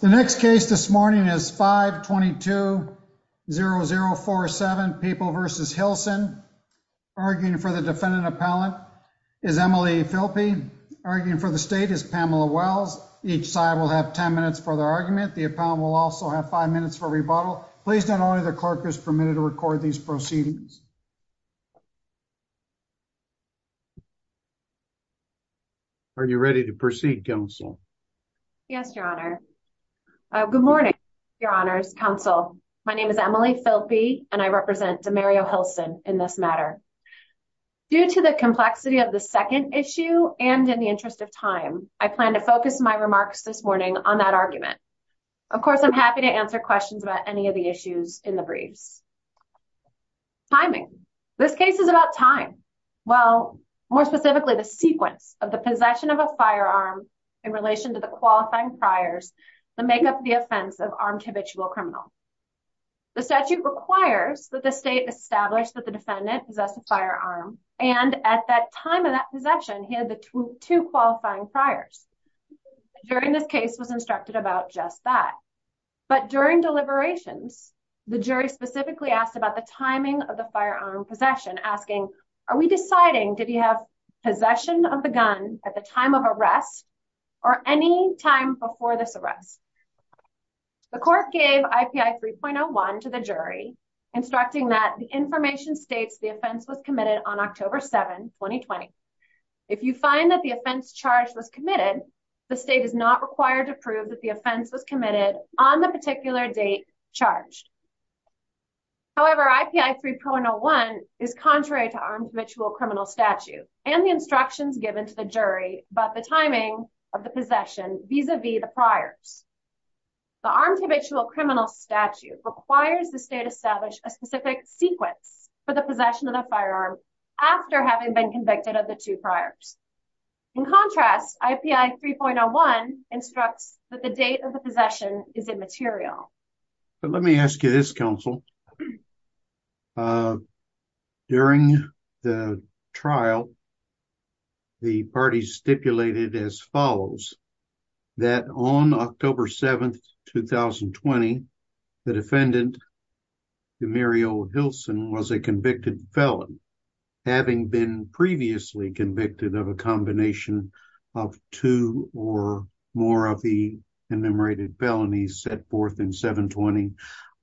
The next case this morning is 522-0047, People v. Hilson. Arguing for the defendant appellant is Emily Philpy. Arguing for the state is Pamela Wells. Each side will have 10 minutes for their argument. The appellant will also have five minutes for rebuttal. Please note only the clerk is permitted to record these proceedings. Are you ready to proceed, counsel? Yes, your honor. Good morning, your honors, counsel. My name is Emily Philpy and I represent Demario Hilson in this matter. Due to the complexity of the second issue and in the interest of time, I plan to focus my remarks this morning on that argument. Of course, I'm happy to answer questions about any of the issues in the briefs. Timing. This case is about time. Well, more specifically, the sequence of the possession of a firearm in relation to the qualifying priors that make up the offense of armed habitual criminal. The statute requires that the state establish that the defendant possessed a firearm and at that time of that possession, he had the two qualifying priors. During this case was instructed about just that. But during deliberations, the jury specifically asked about the timing of the firearm possession, asking, are we deciding did he have possession of the gun at the time of arrest or any time before this arrest? The court gave IPI 3.01 to the jury, instructing that the information states the offense was committed on October 7, 2020. If you find that the offense charge was committed, the state is not required to prove that the offense was committed on the particular date charged. However, IPI 3.01 is contrary to armed habitual criminal statute and the instructions given to the jury about the timing of the possession vis-a-vis the priors. The armed habitual criminal statute requires the state establish a specific sequence for the possession of a firearm after having been convicted of the two priors. In contrast, IPI 3.01 instructs that date of the possession is immaterial. But let me ask you this, counsel. During the trial, the parties stipulated as follows, that on October 7, 2020, the defendant, Demario Hilson, was a convicted felon, having been previously convicted of a combination of two or more of the enumerated felonies set forth in 720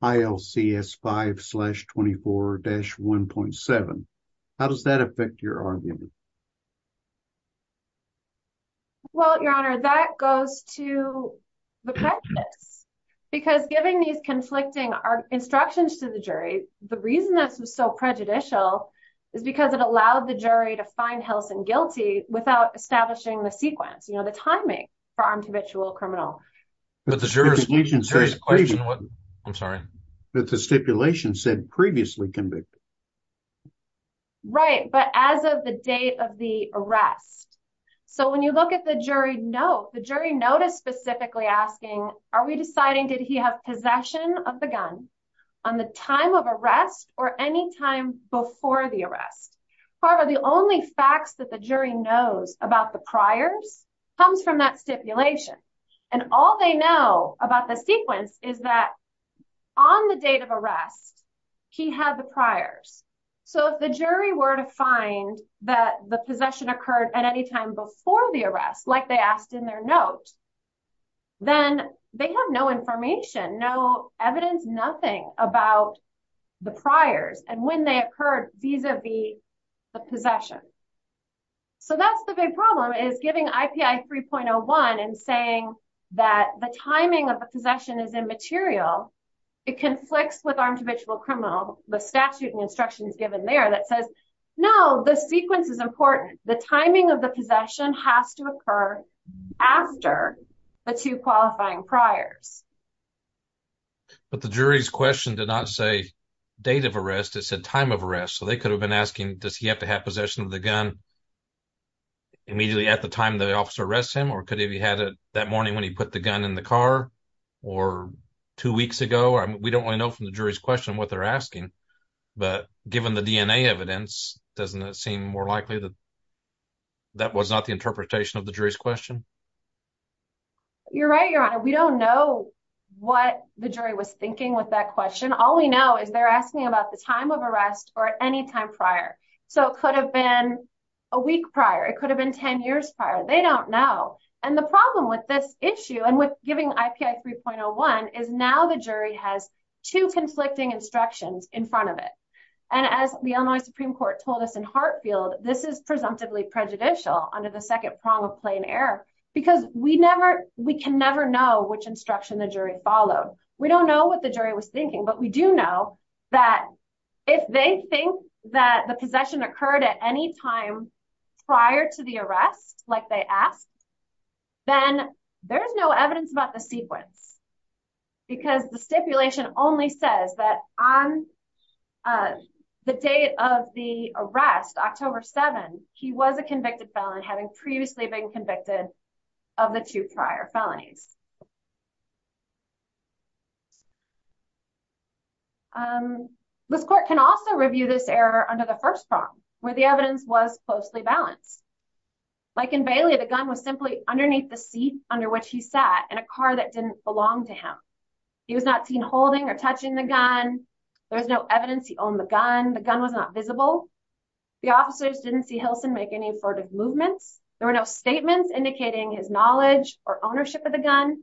ILCS 5 slash 24 dash 1.7. How does that affect your argument? Well, Your Honor, that goes to the practice. Because giving these conflicting instructions to the jury, the reason this was so prejudicial is because it allowed the jury to find Hilson guilty without establishing the sequence, you know, the timing for armed habitual criminal. But the jurisdiction says previously convicted. Right, but as of the date of the arrest. So when you look at the jury note, the jury note is specifically asking, are we deciding did he have possession of the gun on the time of arrest or any time before the arrest? However, the only facts that the jury knows about the priors comes from that stipulation. And all they know about the sequence is that on the date of arrest, he had the priors. So if the jury were to find that the possession occurred at any time before the arrest, like they asked in their note, then they have no information, no evidence, nothing about the priors and when they occurred vis-a-vis the possession. So that's the big problem is giving IPI 3.01 and saying that the timing of the possession is immaterial. It conflicts with armed habitual criminal. The statute and instructions given there that says no, the sequence is important. The timing of the possession has to occur after the two qualifying priors. But the jury's question did not say date of arrest, it said time of arrest. So they could have been asking, does he have to have possession of the gun immediately at the time the officer arrests him? Or could he have had it that morning when he put the gun in the car or two weeks ago? We don't really know from the jury's question what they're asking, but given the DNA evidence, doesn't it seem more likely that that was not the interpretation of the jury's question? You're right, Your Honor. We don't know what the jury was thinking with that question. All we know is they're asking about the time of arrest or at any time prior. So it could have been a week prior, it could have been 10 years prior. They don't know. And the problem with this issue and with giving IPI 3.01 is now the jury has two conflicting instructions in front of it. And as the Illinois Supreme Court told us in Hartfield, this is presumptively prejudicial under the second because we can never know which instruction the jury followed. We don't know what the jury was thinking, but we do know that if they think that the possession occurred at any time prior to the arrest, like they asked, then there's no evidence about the sequence because the stipulation only says that on the date of the arrest, October 7th, he was a convicted felon having previously been convicted of the two prior felonies. This court can also review this error under the first prong where the evidence was closely balanced. Like in Bailey, the gun was simply underneath the seat under which he sat in a car that didn't belong to him. He was not seen holding or touching the gun. There was no evidence he owned the gun. The gun was not visible. The officers didn't see movements. There were no statements indicating his knowledge or ownership of the gun.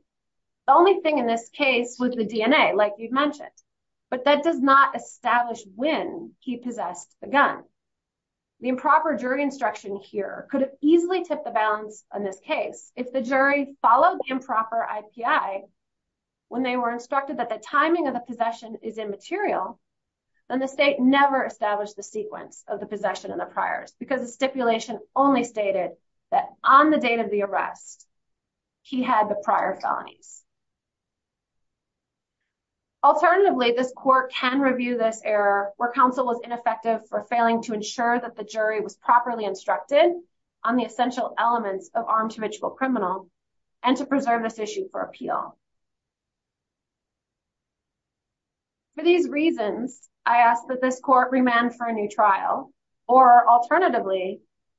The only thing in this case was the DNA, like you've mentioned, but that does not establish when he possessed the gun. The improper jury instruction here could have easily tipped the balance on this case. If the jury followed improper IPI when they were instructed that the timing of the possession is immaterial, then the state never established the sequence of the possession and the priors because the stipulation only stated that on the date of the arrest, he had the prior felonies. Alternatively, this court can review this error where counsel was ineffective for failing to ensure that the jury was properly instructed on the essential elements of armed habitual criminal and to preserve this issue for appeal. For these reasons, I ask that this court remand for a new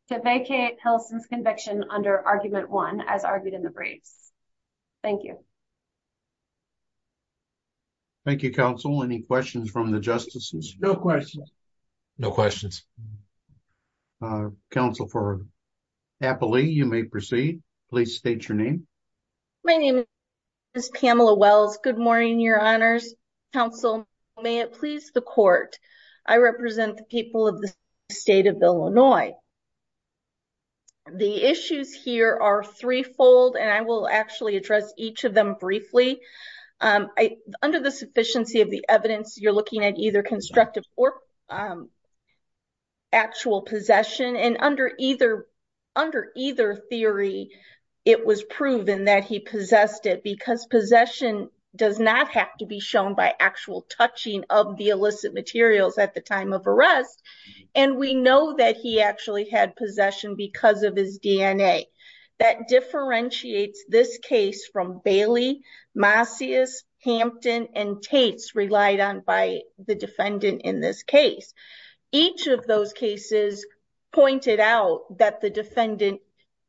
to vacate Helson's conviction under argument one as argued in the briefs. Thank you. Thank you, counsel. Any questions from the justices? No questions. No questions. Counsel for Appley, you may proceed. Please state your name. My name is Pamela Wells. Good morning, your honors. Counsel, may it please the court. I represent the people of the state of Illinois. The issues here are threefold, and I will actually address each of them briefly. Under the sufficiency of the evidence, you're looking at either constructive or actual possession. And under either theory, it was proven that he possessed it because possession does not have to be shown by actual touching of the illicit materials at the time of arrest. And we know that he actually had possession because of his DNA. That differentiates this case from Bailey, Macias, Hampton, and Tate's relied on by the defendant in this case. Each of those cases pointed out that the defendant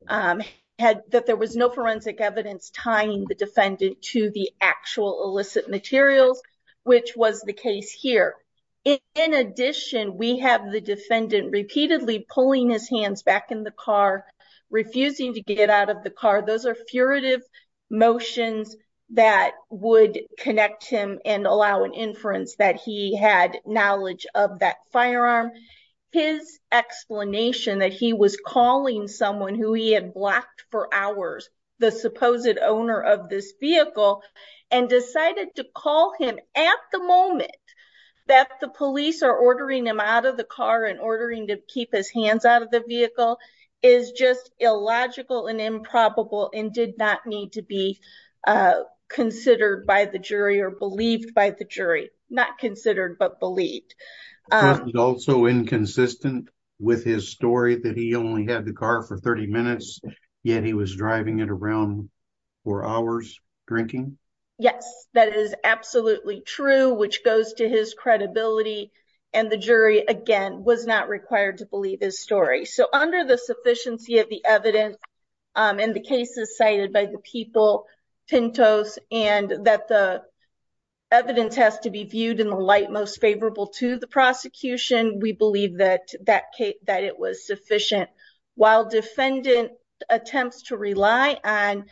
had that there was no forensic evidence tying the defendant to the actual illicit materials, which was the case here. In addition, we have the defendant repeatedly pulling his hands back in the car, refusing to get out of the car. Those are furtive motions that would connect him and allow an inference that he had knowledge of that firearm. His explanation that he was calling someone who he had blocked for hours, the supposed owner of this vehicle, and decided to call him at the police are ordering him out of the car and ordering to keep his hands out of the vehicle is just illogical and improbable and did not need to be considered by the jury or believed by the jury. Not considered, but believed. Also inconsistent with his story that he only had the car for 30 minutes, yet he was driving it around for hours drinking. Yes, that is absolutely true, which goes to his credibility and the jury, again, was not required to believe his story. So under the sufficiency of the evidence in the cases cited by the people, Pintos, and that the evidence has to be viewed in the light most favorable to the prosecution, we believe that it was sufficient. While defendant attempts to rely on,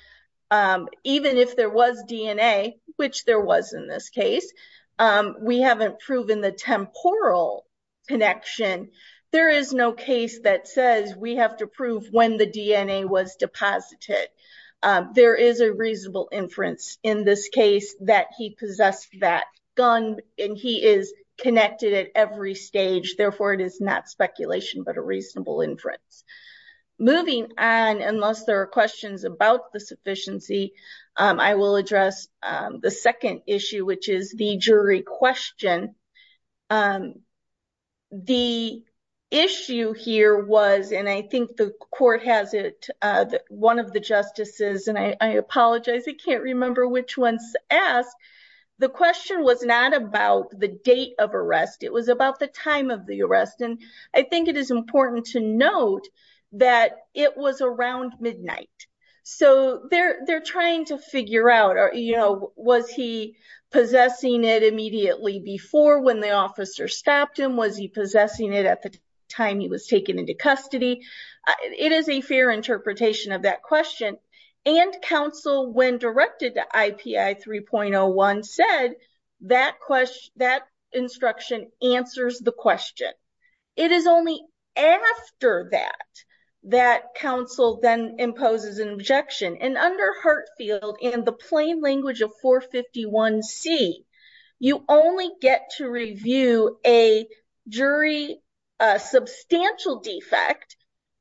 even if there was DNA, which there was in this case, we haven't proven the temporal connection. There is no case that says we have to prove when the DNA was deposited. There is a reasonable inference in this case that he possessed that gun and he is connected at every stage. Therefore, it is not speculation, but a reasonable inference. Moving on, unless there are questions about the sufficiency, I will address the second issue, which is the jury question. The issue here was, and I think the court has it, one of the justices, and I apologize, I can't remember which one's asked. The question was not about the date of arrest. It was about the time of the arrest. I think it is important to note that it was around midnight. So they're trying to figure out, was he possessing it immediately before when the officer stopped him? Was he possessing it at the time he was taken into custody? It is a fair interpretation of that the question. It is only after that, that counsel then imposes an objection. And under Hartfield, and the plain language of 451C, you only get to review a jury substantial defect,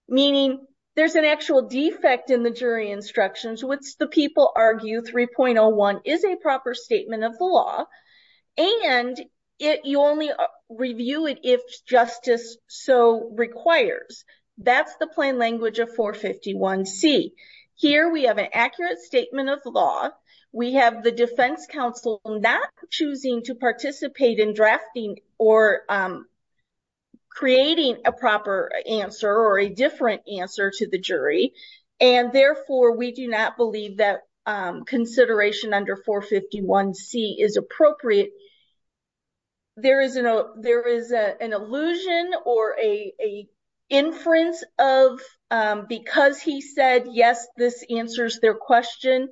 meaning there's an actual defect in the jury instructions, which the people argue 3.01 is a proper statement of the law. And you only review it if justice so requires. That's the plain language of 451C. Here we have an accurate statement of law. We have the defense counsel not choosing to participate in drafting or creating a proper answer or a different answer to the jury. And therefore, we do not believe that consideration under 451C is appropriate. There is an illusion or a inference of because he said, yes, this answers their question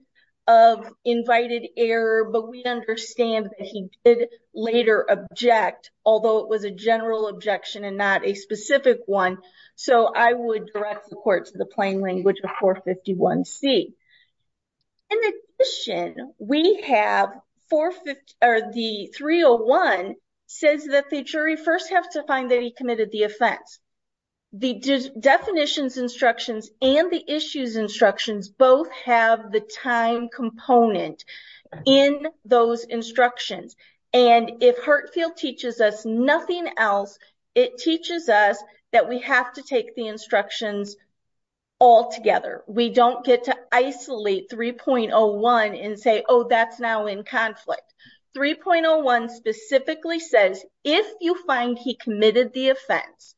of invited error, but we understand that he did later object, although it was a general objection and not a specific one. So I would direct the court to the plain language of 451C. In addition, we have the 3.01 says that the jury first have to find that he committed the offense. The definitions instructions and the issues instructions both have the time component in those instructions. And if Hurtfield teaches us nothing else, it teaches us that we have to take the instructions all together. We don't get to isolate 3.01 and say, oh, that's now in conflict. 3.01 specifically says, if you find he committed the offense,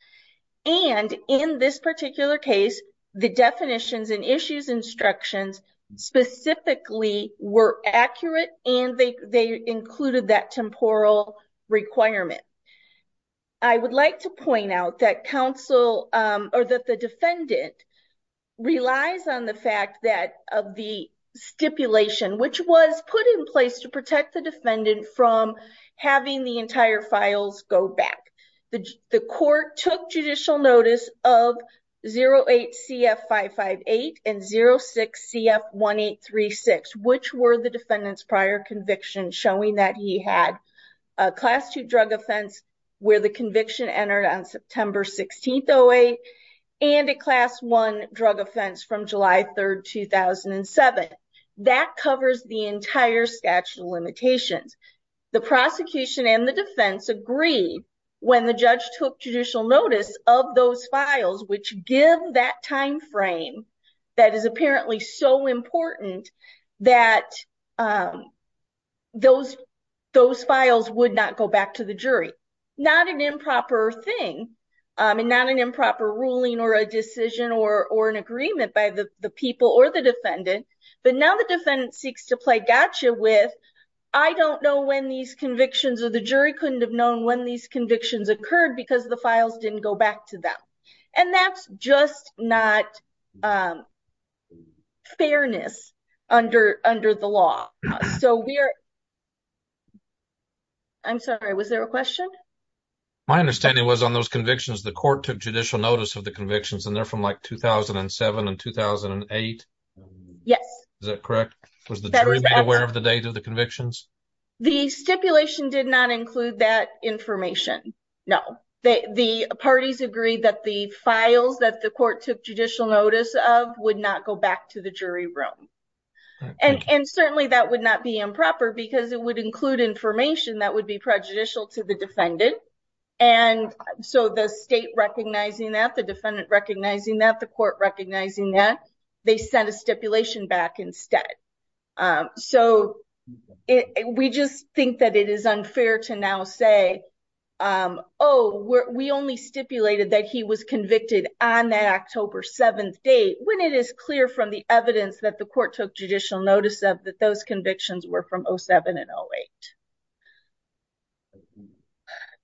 and in this particular case, the definitions and issues instructions specifically were accurate and they included that temporal requirement. I would like to point out that counsel or that the defendant relies on the fact that of the stipulation, which was put in place to protect the defendant from having the entire files go back. The court took judicial notice of 08CF558 and 06CF1836, which were the defendant's prior conviction showing that he had a class two drug offense where the conviction entered on September 16th, 08, and a class one drug offense from July 3rd, 2007. That covers the entire statute of limitations. The prosecution and the defense agree when the judge took judicial notice of those files, which give that time frame that is apparently so important that those files would not go back to the jury. Not an improper thing and not an improper ruling or a decision or an agreement by the people or the defendant, but now the defendant seeks to play gotcha with, I don't know when these convictions or the jury couldn't have known when these convictions occurred because the files didn't go back to them. That's just not fairness under the law. I'm sorry, was there a question? My understanding was on those convictions, the court took judicial notice of the convictions, and they're from 2007 and 2008. Yes. Is that correct? Was the jury aware of the date of the convictions? The stipulation did not include that information. No. The parties agreed that the files that the court took judicial notice of would not go back to the jury room. Certainly, that would not be improper because it would include information that would be prejudicial to the defendant. And so, the state recognizing that, the defendant recognizing that, the court recognizing that, they sent a stipulation back instead. So, we just think that it is unfair to now say, oh, we only stipulated that he was convicted on that October 7th date when it is clear from the evidence that the court took judicial notice of that those convictions were from 2007 and 2008.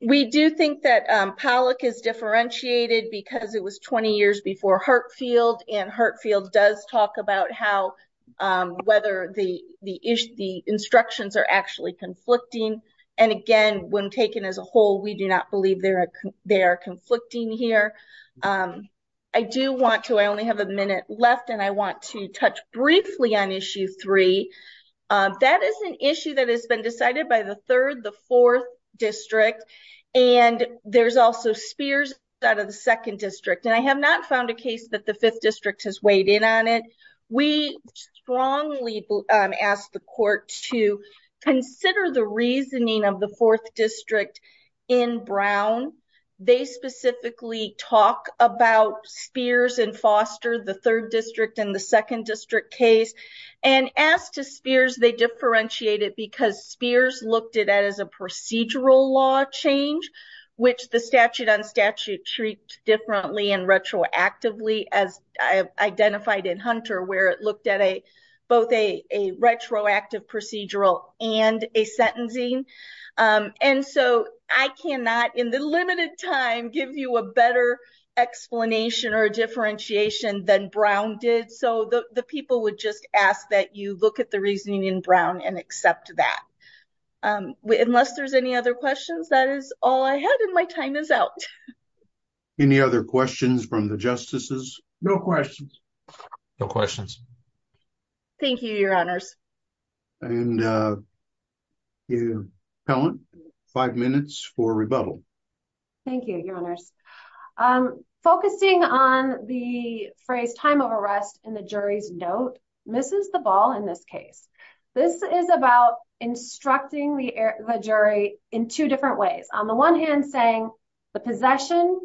We do think that Pollack is differentiated because it was 20 years before Hurtfield, and Hurtfield does talk about how whether the instructions are actually conflicting. And again, when taken as a whole, we do not believe they are conflicting here. I do want to, I only have a minute left, and I want to touch briefly on Issue 3. That is an issue that has been decided by the 3rd, the 4th District, and there's also Spears out of the 2nd District. And I have not found a case that the 5th District has weighed in on it. We strongly ask the court to consider the reasoning of the 4th District in Brown. They specifically talk about Spears and Foster, the 3rd District and the 2nd District case. And as to Spears, they differentiate it because Spears looked at it as a procedural law change, which the statute on statute treats differently and retroactively, as identified in Hunter, where it looked at both a retroactive procedural and a sentencing. And so, I cannot, in the limited time, give you a better explanation or differentiation than Brown did. So, the people would just ask that you look at the reasoning in Brown and accept that. Unless there's any other questions, that is all I had, and my time is out. Any other questions from the Justices? No questions. No questions. Thank you, Your Honors. And, I'm focusing on the phrase time of arrest in the jury's note. This is the ball in this case. This is about instructing the jury in two different ways. On the one hand, saying the possession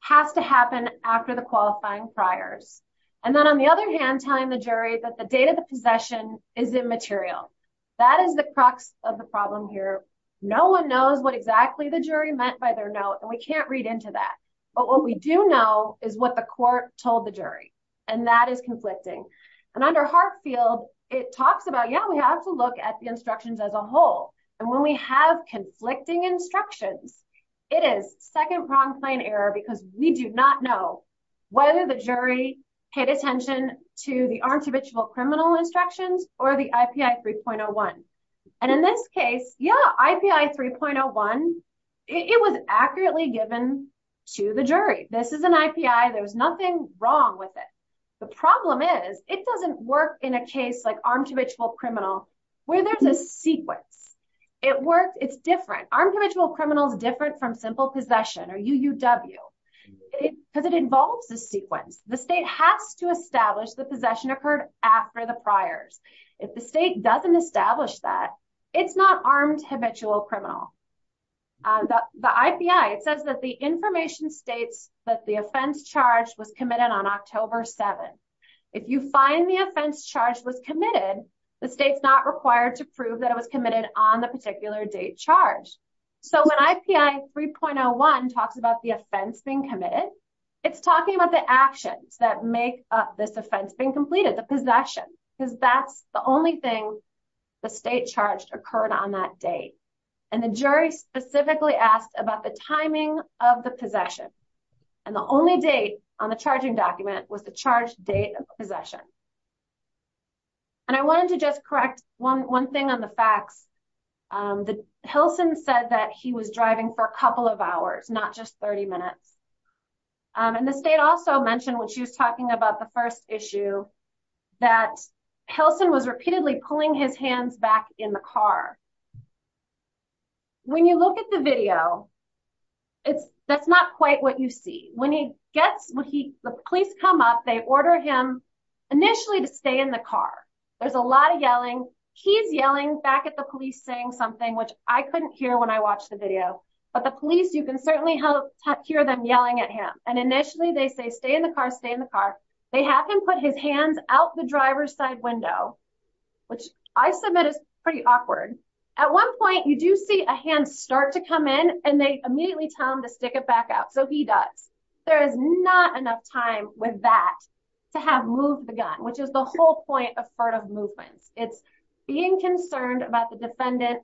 has to happen after the qualifying priors. And then, on the other hand, telling the jury that the date of the possession is immaterial. That is the crux of the problem here. No one knows exactly what the jury meant by their note, and we can't read into that. But what we do know is what the court told the jury. And that is conflicting. And under Hartfield, it talks about, yeah, we have to look at the instructions as a whole. And when we have conflicting instructions, it is second-pronged plain error because we do not know whether the jury paid attention to the armed habitual criminal instructions or the IPI 3.01. And in this case, yeah, IPI 3.01, it was accurately given to the jury. This is an IPI. There's nothing wrong with it. The problem is it doesn't work in a case like armed habitual criminal where there's a sequence. It worked. It's different. Armed habitual criminal is different from simple possession or UUW because it involves a sequence. The state has to establish the possession occurred after the priors. If the state doesn't establish that, it's not armed habitual criminal. The IPI, it says that the information states that the offense charge was committed on October 7th. If you find the offense charge was committed, the state's not required to prove that it was being committed. It's talking about the actions that make up this offense being completed, the possession, because that's the only thing the state charged occurred on that date. And the jury specifically asked about the timing of the possession. And the only date on the charging document was the charge date of possession. And I wanted to just correct one thing on the facts. Hilson said that he was driving for a couple of hours, not just 30 minutes. And the state also mentioned when she was talking about the first issue that Hilson was repeatedly pulling his hands back in the car. When you look at the video, that's not quite what you see. When the police come up, they order him initially to stay in the car. There's a lot of yelling. He's yelling back at the police saying something, which I couldn't hear when I watched the video, but the police, you can certainly hear them yelling at him. And initially they say, stay in the car, stay in the car. They have him put his hands out the driver's side window, which I submit is pretty awkward. At one point, you do see a hand start to come in and they immediately tell him to stick it back out. So he does. There is not enough time with that to have moved the gun, which is the whole point of furtive movements. It's being concerned about the defendant,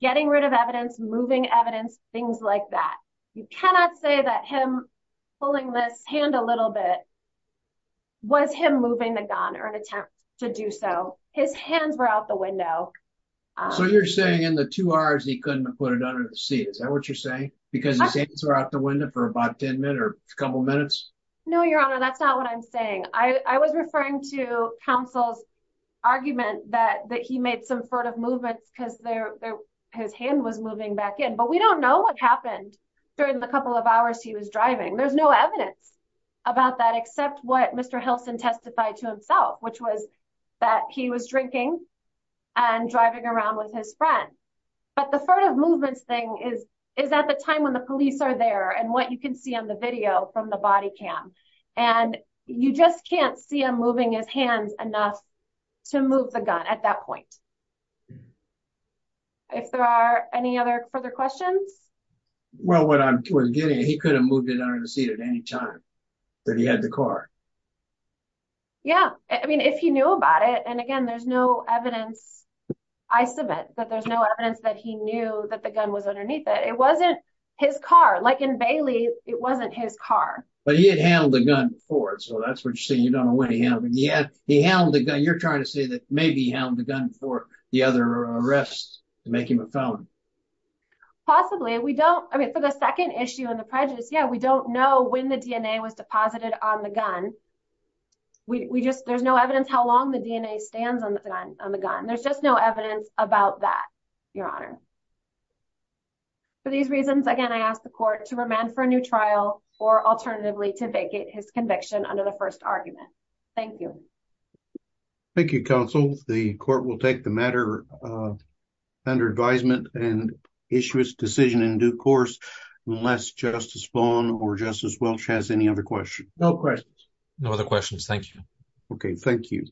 getting rid of evidence, moving evidence, things like that. You cannot say that him pulling this hand a little bit was him moving the gun or an attempt to do so. His hands were out the window. So you're saying in the two hours, he couldn't put it under the seat. Is that what you're saying? Because his hands were out the window for about 10 minutes or a couple minutes? No, Your Honor, that's not what I'm saying. I was referring to counsel's argument that he made some furtive movements because his hand was moving back in. But we don't know what happened during the couple of hours he was driving. There's no evidence about that except what Mr. Hilson testified to himself, which was that he was drinking and driving around with his friend. But the furtive movements thing is at the time when the police are there and what you can see on the video from the body cam. And you just can't see him moving his hands enough to move the gun at that point. If there are any other further questions? Well, what I'm getting at, he could have moved it under the seat at any time that he had the car. Yeah. I mean, if he knew about it, again, there's no evidence. I submit that there's no evidence that he knew that the gun was underneath it. It wasn't his car. Like in Bailey, it wasn't his car. But he had handled the gun before. So that's what you're saying. You don't know what he handled. He handled the gun. You're trying to say that maybe he handled the gun before the other arrests to make him a felon. Possibly. I mean, for the second issue in the prejudice, yeah, we don't know when the DNA was deposited on the gun. There's no evidence how long the DNA stands on the gun. There's just no evidence about that, your honor. For these reasons, again, I ask the court to remand for a new trial or alternatively to vacate his conviction under the first argument. Thank you. Thank you, counsel. The court will take the matter under advisement and issue its decision in due course, unless Justice Vaughn or Justice Welch has any other questions. No questions. No other questions. Thank you. Okay. Thank you.